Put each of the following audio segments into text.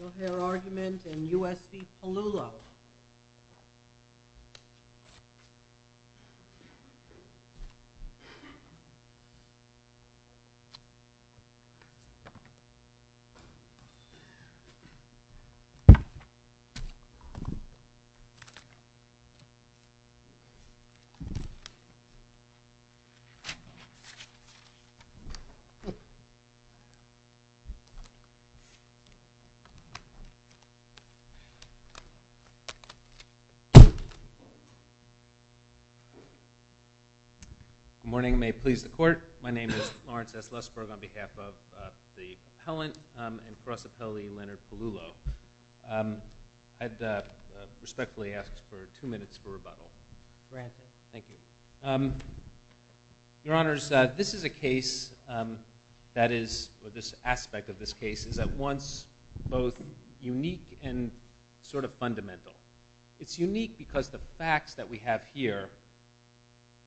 No hair argument in U.S. v. Pelullo Lawrence S. Lustberg Good morning, may it please the court My name is Lawrence S. Lustberg On behalf of the compellant and cross appellate Leonard Pelullo I'd respectfully ask for two minutes for rebuttal Granted Thank you Your honors, this is a case that is, or this aspect of this case is at once both unique and sort of fundamental It's unique because the facts that we have here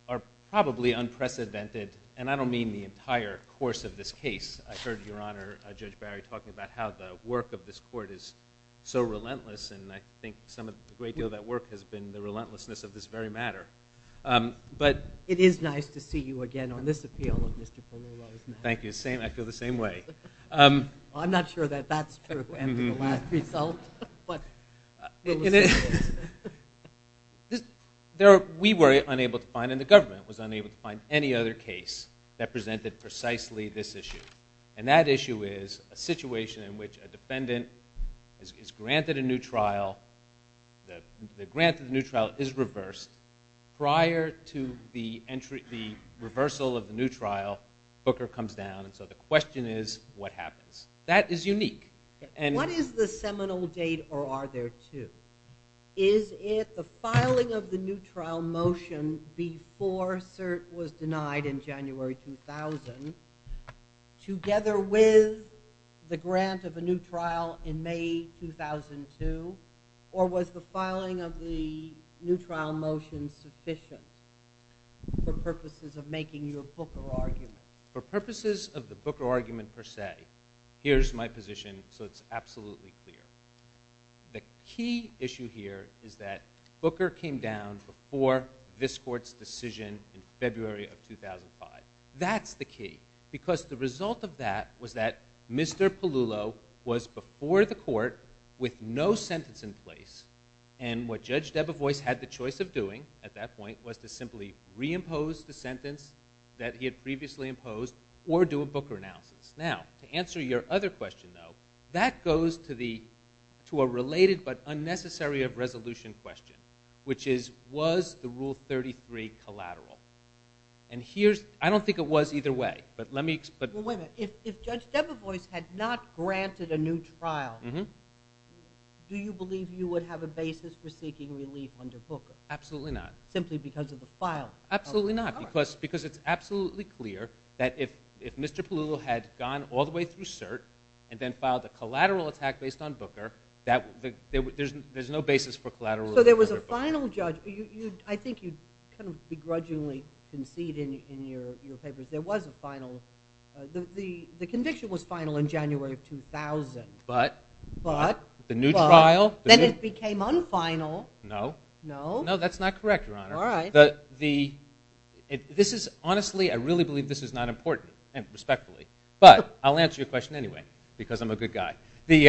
are probably unprecedented and I don't mean the entire course of this case I heard your honor, Judge Barry talking about how the work of this court is so relentless and I think some of the great deal of that work has been the relentlessness of this very matter It is nice to see you again on this appeal of Mr. Pelullo's matter Thank you, I feel the same way I'm not sure that that's true after the last result We were unable to find, and the government was unable to find any other case that presented precisely this issue and that issue is a situation in which a defendant is granted a new trial The grant of the new trial is reversed Prior to the reversal of the new trial Booker comes down, and so the question is, what happens? That is unique What is the seminal date, or are there two? Is it the filing of the new trial motion before Cert was denied in January 2000 together with the grant of a new trial in May 2002 or was the filing of the new trial motion sufficient for purposes of making your Booker argument? For purposes of the Booker argument per se here's my position, so it's absolutely clear The key issue here is that Booker came down before this court's decision in February of 2005 That's the key, because the result of that was that Mr. Pelullo was before the court with no sentence in place and what Judge Debevoise had the choice of doing at that point was to simply reimpose the sentence that he had previously imposed or do a Booker analysis Now, to answer your other question though that goes to a related but unnecessary of resolution question which is, was the Rule 33 collateral? I don't think it was either way If Judge Debevoise had not granted a new trial do you believe you would have a basis for seeking relief under Booker? Absolutely not Simply because of the filing? Absolutely not, because it's absolutely clear that if Mr. Pelullo had gone all the way through Cert and then filed a collateral attack based on Booker there's no basis for collateral relief under Booker So there was a final judge I think you begrudgingly concede in your papers that there was a final The conviction was final in January of 2000 But, the new trial Then it became un-final No, that's not correct Your Honor Alright This is honestly, I really believe this is not important and respectfully But, I'll answer your question anyway because I'm a good guy In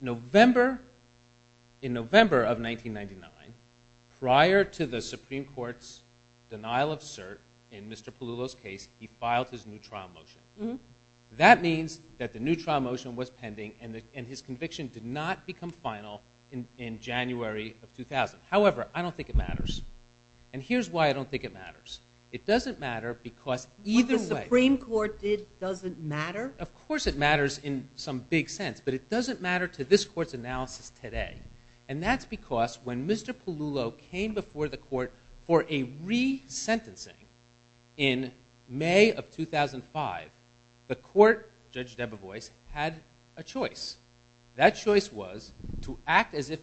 November of 1999 prior to the Supreme Court's denial of Cert in Mr. Pelullo's case he filed his new trial motion That means that the new trial motion was pending and his conviction did not become final in January of 2000 However, I don't think it matters And here's why I don't think it matters It doesn't matter because What the Supreme Court did doesn't matter? Of course it matters in some big sense But it doesn't matter to this court's analysis today And that's because when Mr. Pelullo came before the court for a re-sentencing in May of 2005 the court, Judge Debevoise, had a choice That choice was to act as if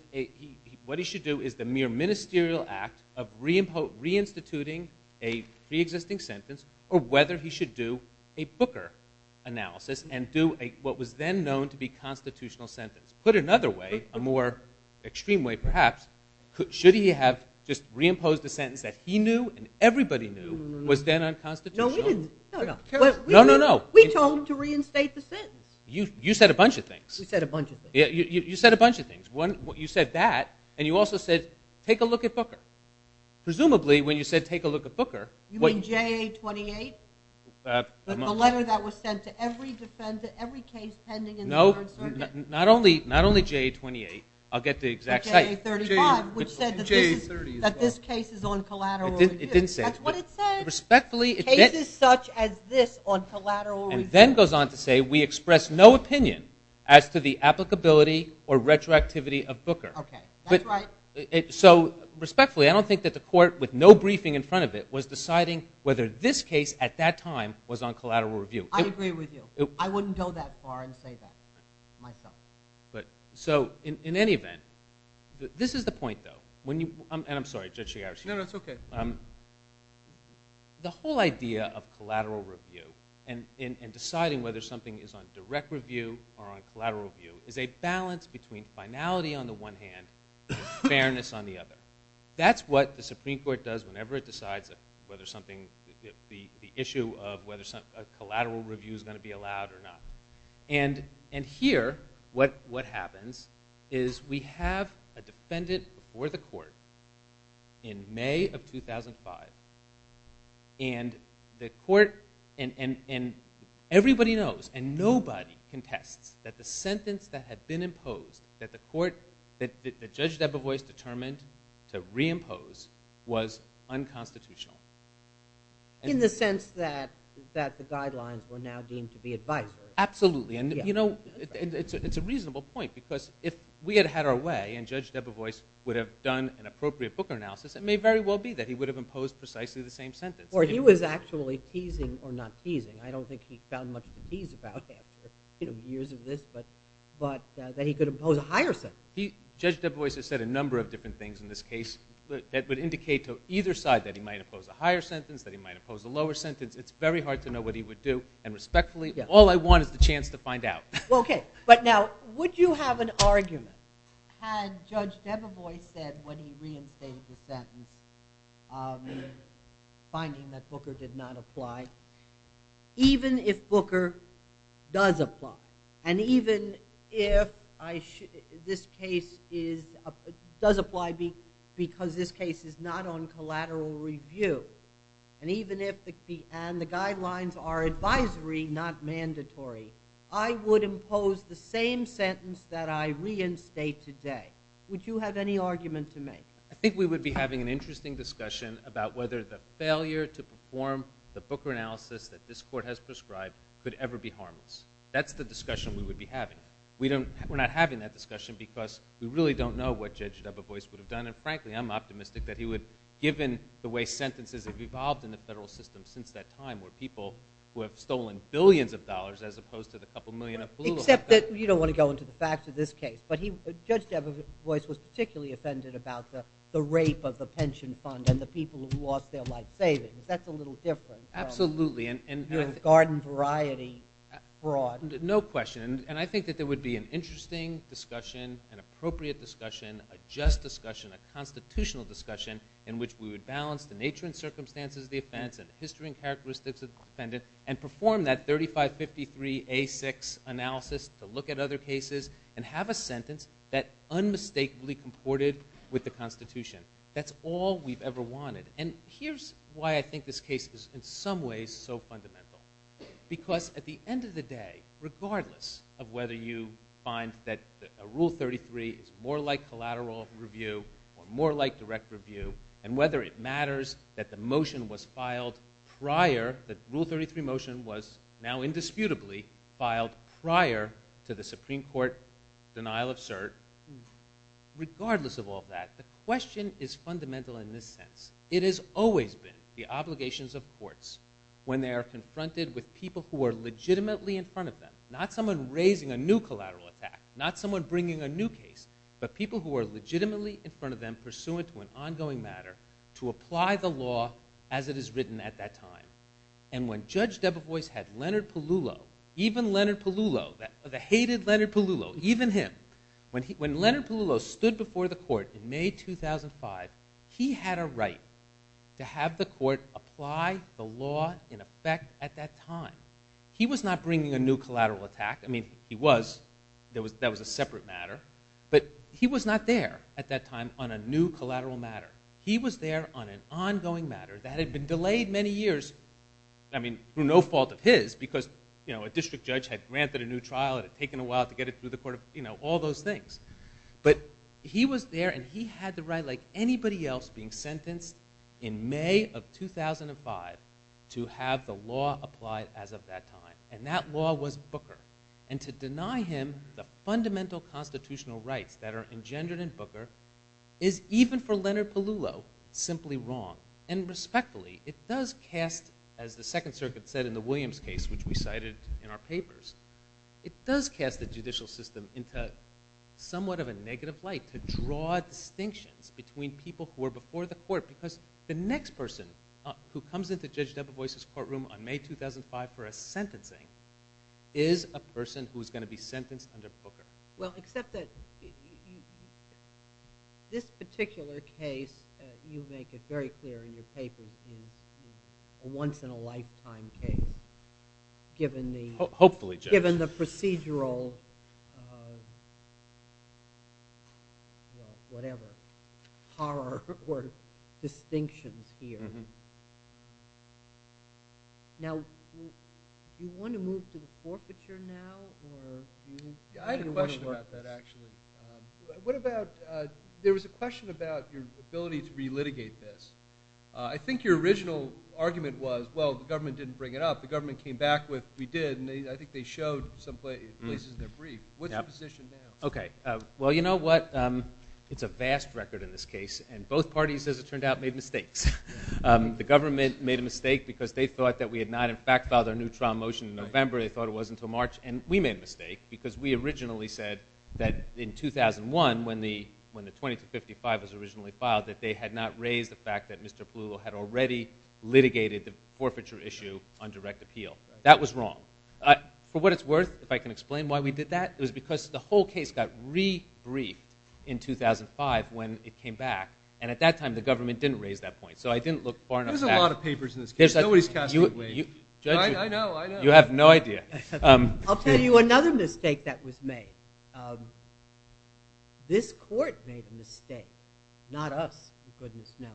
what he should do is the mere ministerial act of reinstituting a pre-existing sentence or whether he should do a Booker analysis and do what was then known to be a constitutional sentence Put another way, a more extreme way perhaps should he have just re-imposed a sentence that he knew and everybody knew was then unconstitutional No, we didn't No, no, no We told him to reinstate the sentence You said a bunch of things We said a bunch of things You said a bunch of things You said that and you also said take a look at Booker Presumably, when you said take a look at Booker You mean J.A. 28? The letter that was sent to every defendant every case pending in the Third Circuit Not only J.A. 28 I'll get the exact site J.A. 35 which said that this case is on collateral It didn't say it That's what it said Cases such as this on collateral And then goes on to say We express no opinion as to the applicability or retroactivity of Booker That's right So, respectfully, I don't think that the court with no briefing in front of it was deciding whether this case at that time was on collateral review I agree with you I wouldn't go that far and say that myself So, in any event This is the point, though And I'm sorry, Judge Shigarashi No, no, it's okay The whole idea of collateral review and deciding whether something is on direct review or on collateral review is a balance between finality on the one hand and fairness on the other That's what the Supreme Court does whenever it decides whether something the issue of whether collateral review is going to be allowed or not And here, what happens is we have a defendant before the court in May of 2005 And the court And everybody knows And nobody contests that the sentence that had been imposed that the court that Judge Debevoise determined to reimpose was unconstitutional In the sense that that the guidelines were now deemed to be advisory Absolutely And, you know, it's a reasonable point because if we had had our way and Judge Debevoise would have done an appropriate Booker analysis it may very well be that he would have imposed precisely the same sentence Or he was actually teasing, or not teasing I don't think he found much to tease about after years of this But that he could impose a higher sentence Judge Debevoise has said a number of different things in this case that would indicate to either side that he might impose a higher sentence that he might impose a lower sentence It's very hard to know what he would do And respectfully all I want is the chance to find out Okay, but now would you have an argument had Judge Debevoise said when he reinstated the sentence finding that Booker did not apply even if Booker does apply and even if this case does apply because this case is not on collateral review and even if the guidelines are advisory not mandatory I would impose the same sentence that I reinstate today Would you have any argument to make? I think we would be having an interesting discussion about whether the failure to perform the Booker analysis that this Court has prescribed could ever be harmless That's the discussion we would be having We're not having that discussion because we really don't know what Judge Debevoise would have done and frankly I'm optimistic that he would given the way sentences have evolved in the federal system since that time where people who have stolen billions of dollars as opposed to the couple million of political Except that you don't want to go into the facts of this case But Judge Debevoise was particularly offended about the rape of the pension fund and the people who lost their life savings That's a little different Absolutely Garden variety fraud No question And I think that there would be an interesting discussion an appropriate discussion a just discussion a constitutional discussion in which we would balance the nature and circumstances of the offense and the history and characteristics of the defendant and perform that 3553A6 analysis to look at other cases and have a sentence that unmistakably comported with the Constitution That's all we've ever wanted And here's why I think this case is in some ways so fundamental Because at the end of the day regardless of whether you find that Rule 33 is more like collateral review or more like direct review and whether it matters that the motion was filed prior that Rule 33 motion was now indisputably filed prior to the Supreme Court denial of cert Regardless of all that the question is fundamental in this sense It has always been the obligations of courts when they are confronted with people who are legitimately in front of them not someone raising a new collateral attack not someone bringing a new case but people who are legitimately in front of them pursuant to an ongoing matter to apply the law as it is written at that time And when Judge Debevoise had Leonard Pellullo even Leonard Pellullo the hated Leonard Pellullo even him When Leonard Pellullo stood before the court in May 2005 he had a right to have the court apply the law in effect at that time He was not bringing a new collateral attack I mean he was that was a separate matter but he was not there at that time on a new collateral matter He was there on an ongoing matter that had been delayed many years I mean through no fault of his because a district judge had granted a new trial it had taken a while to get it through the court all those things But he was there and he had the right like anybody else of being sentenced in May of 2005 to have the law applied as of that time and that law was Booker and to deny him the fundamental constitutional rights that are engendered in Booker is even for Leonard Pellullo simply wrong and respectfully it does cast as the Second Circuit said in the Williams case which we cited in our papers it does cast the judicial system into somewhat of a negative light to draw distinctions between people who are before the court because the next person who comes into Judge Debevoise's courtroom on May 2005 for a sentencing is a person who is going to be sentenced under Booker Well except that this particular case you make it very clear in your paper is a once in a lifetime case given the Hopefully Judge given the procedural well whatever horror or distinctions here Now do you want to move to the forfeiture now or do you want to work I had a question about that actually What about there was a question about your ability to re-litigate this I think your original argument was well the government didn't bring it up the government came back with we did and I think they showed some places in their brief What's your position now Okay Well you know what it's a vast record in this case and both parties as it turned out made mistakes The government made a mistake because they thought that we had not in fact filed our new trial motion in November they thought it wasn't until March and we made a mistake because we originally said that in 2001 when the 2255 was originally filed that they had not raised the fact that Mr. Palullo had already litigated the forfeiture issue on direct appeal That was wrong For what it's worth if I can explain why we did that it was because the whole case got re-briefed in 2005 when it came back and at that time the government didn't raise that point so I didn't look far enough back There's a lot of papers in this case Nobody's casting a weight I know You have no idea I'll tell you another mistake that was made This court made a mistake not us for goodness' sake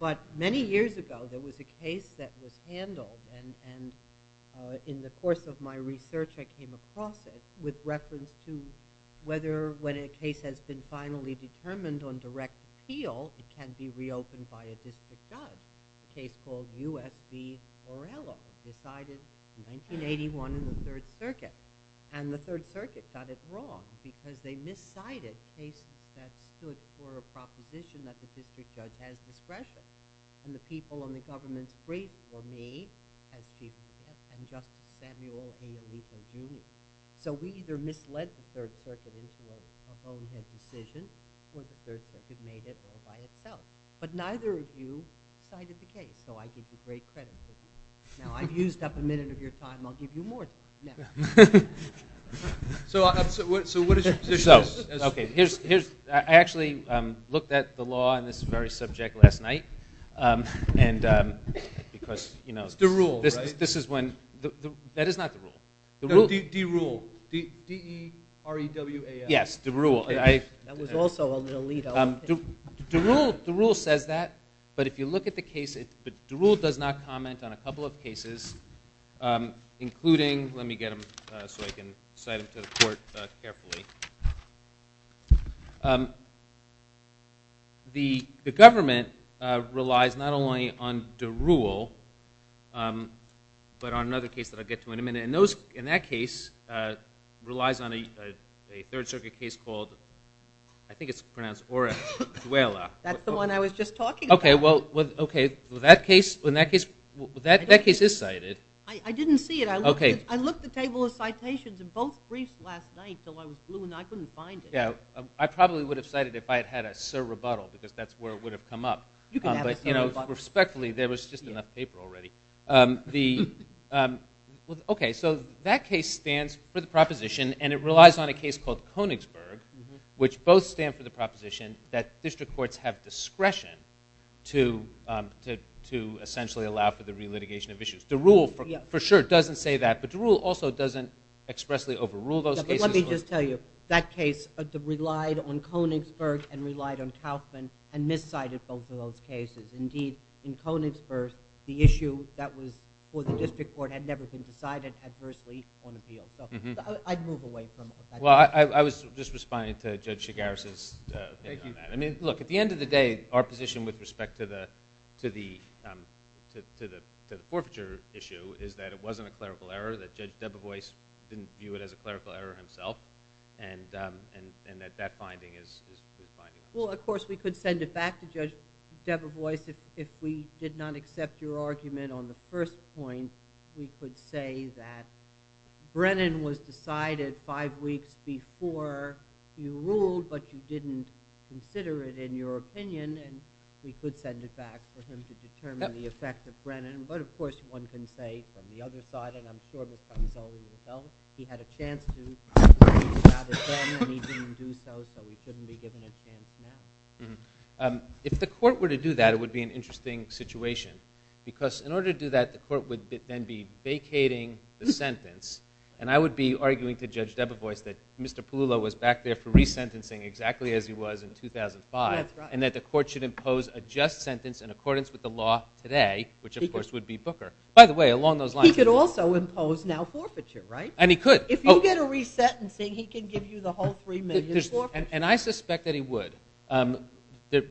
but many years ago there was a case that was handled and in the course of my research I came across it with reference to whether when a case has been finally determined on direct appeal it can be reopened by a district judge A case called U.S. v. Orello decided in 1981 in the 3rd Circuit and the 3rd Circuit got it wrong because they miscited a case that stood for a proposition that the district judge has discretion and the people and the government prayed for me as Chief of Staff and Justice Samuel A. O'Leary So we either misled the 3rd Circuit into a bonehead decision or the 3rd Circuit made it all by itself But neither of you cited the case so I give you great credit for that Now I've used up a minute of your time I'll give you more time now So what is your position? So Okay Here's I actually looked at the law on this very subject last night and because you know The rule, right? This is when That is not the rule The rule D-Rule D-E-R-E-W-A-L Yes, the rule That was also a little legal The rule says that but if you look at the case the rule does not comment on a couple of cases including let me get them so I can cite them to the court carefully The government relies not only on the rule but on another case that I'll get to in a minute and those in that case relies on a third circuit case called I think it's pronounced ORA DUELA That's the one I was just talking about Okay, well that case is cited I didn't see it I looked at the table of citations in both briefs last night until I was blue and I couldn't find it I probably would have cited it if I had had a sur rebuttal because that's where it would have come up but respectfully there was just enough paper already Okay, so that case stands for the proposition on a case called Konigsberg which both stand for the proposition that district courts have discretion to essentially allow for the relitigation of issues Okay, so the rule for sure doesn't say that but the rule also doesn't expressly overrule those cases Let me just tell you that case relied on Konigsberg and relied on Kaufman and miscited both of those cases indeed in Konigsberg the issue that was for the district court had never been decided adversely on appeal so I'd move away from that Well, I was just responding to Judge Shigaris' opinion on that I mean, look at the end of the day our position with respect to the forfeiture issue is that it wasn't a clerical error that Judge Debevoise didn't view it as a clerical error himself and that that finding is finding Well, of course we could send it back to Judge Debevoise if we did not accept your argument on the first point we could say that Brennan was decided five weeks before you ruled but you didn't consider it in your opinion and we could send it back for him to determine the effect of Brennan but of course one can say from the other side and I'm sure he had a chance to and he didn't do so so he couldn't be given a chance now If the court were to do that it would be an interesting situation because in order to do that the court would then be vacating the sentence and I would be arguing to Judge Debevoise that Mr. Pululo was back there for resentencing exactly as he was in 2005 and that the court should impose a just sentence in accordance with the law today which of course would be Booker by the way along those lines he could also impose now forfeiture and he could if you get a resentencing he can give you the whole three million forfeiture and I suspect that he would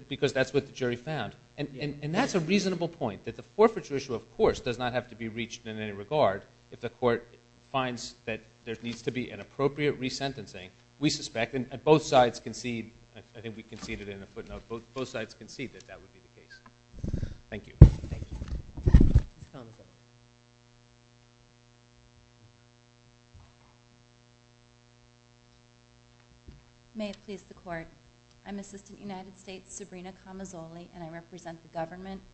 because that's what the jury found and that's a reasonable point that the forfeiture issue of course does not have to be reached in any regard if the court finds that there needs to be an appropriate resentencing we suspect and both sides concede that that would be the case. Thank you. May it please the court. I'm Assistant United States Sabrina Camazoli and I represent the government of the United States. I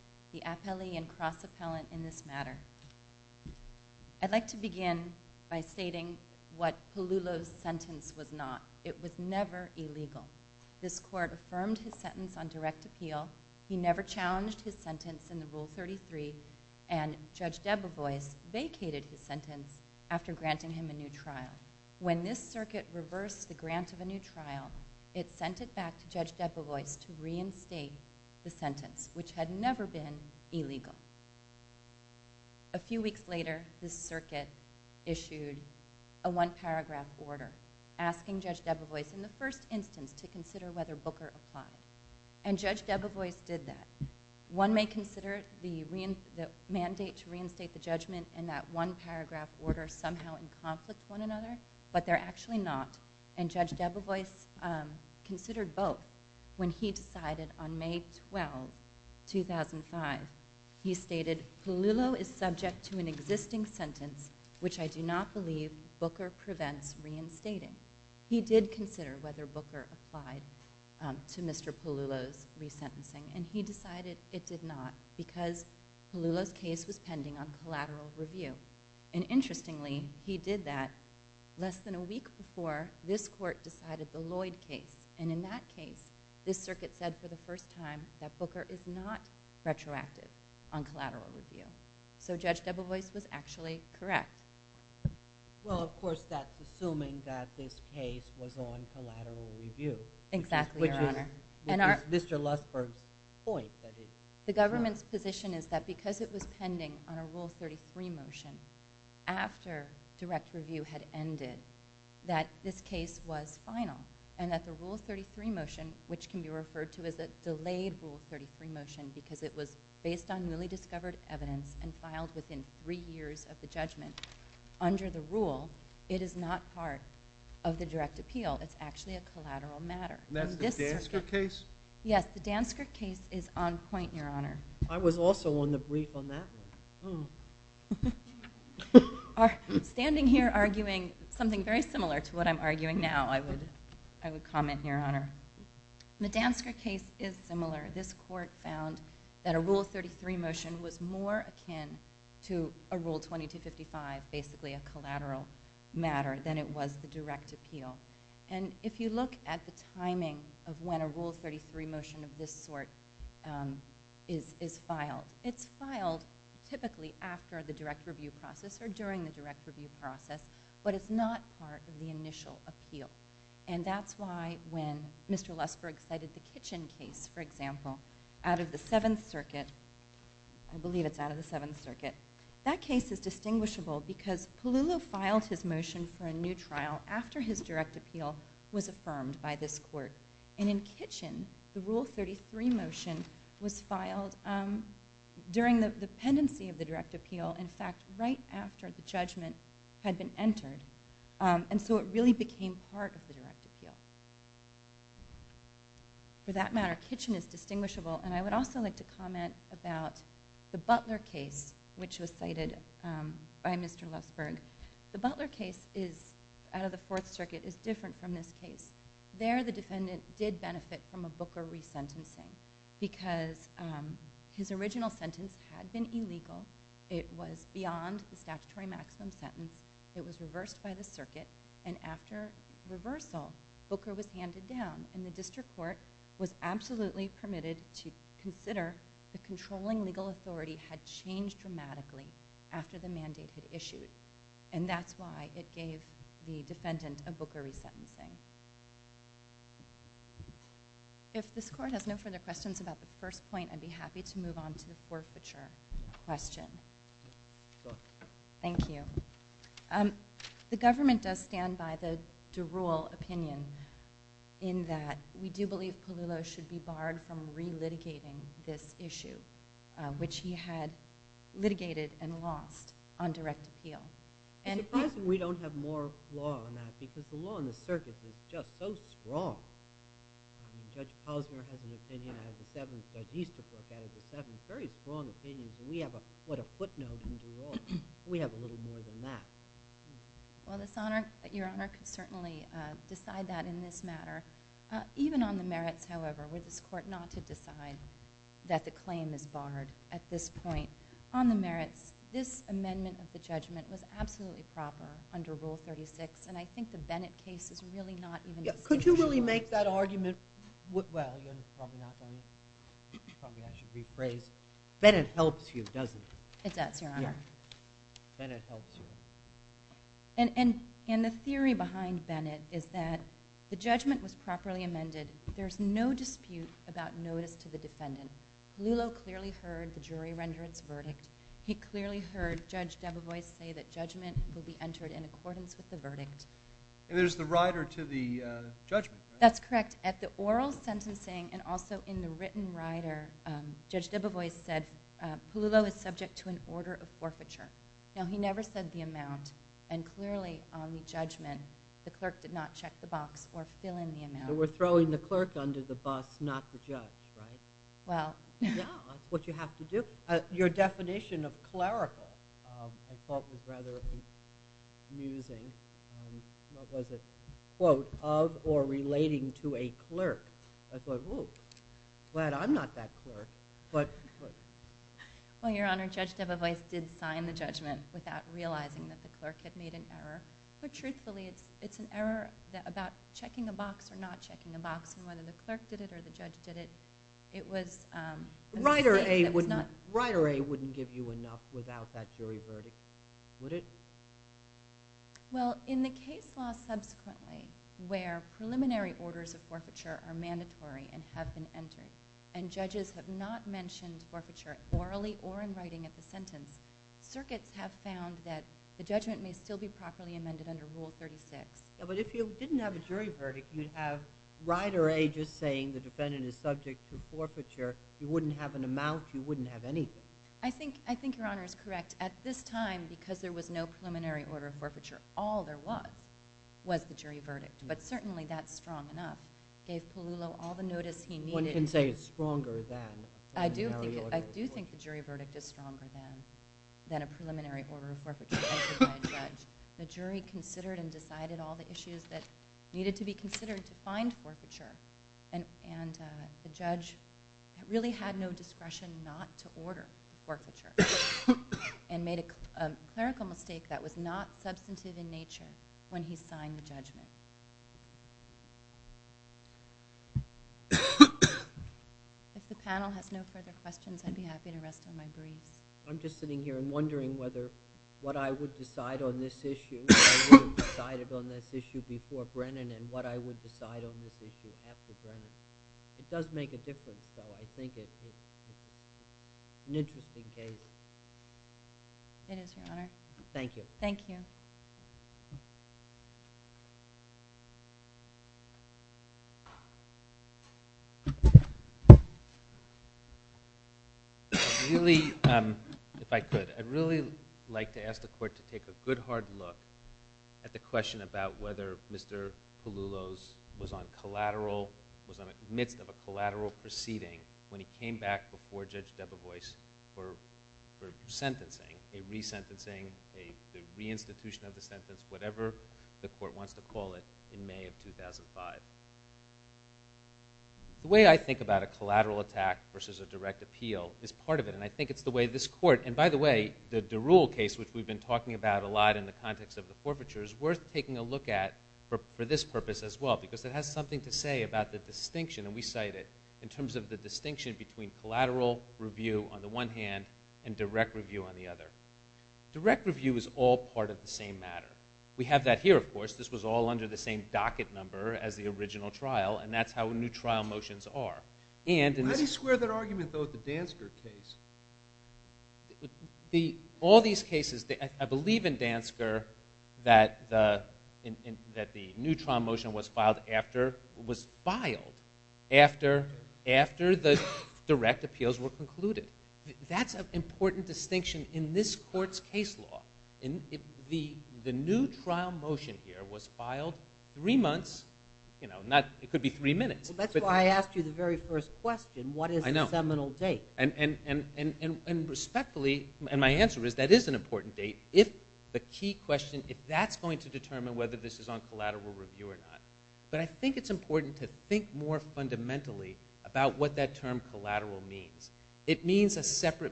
would like to begin by stating what Pelulo's sentence was not. It was never illegal. This court affirmed his sentence on direct appeal. He never challenged his sentence in the rule 33 and Judge Debevoise vacated his sentence after granting him a new trial. When this circuit reversed the grant of a new trial it sent it back to Judge Debevoise to reinstate the sentence which had the mandate to reinstate the judgment and that one paragraph order somehow in conflict with one another but they're actually not. And Judge Debevoise considered both when he decided on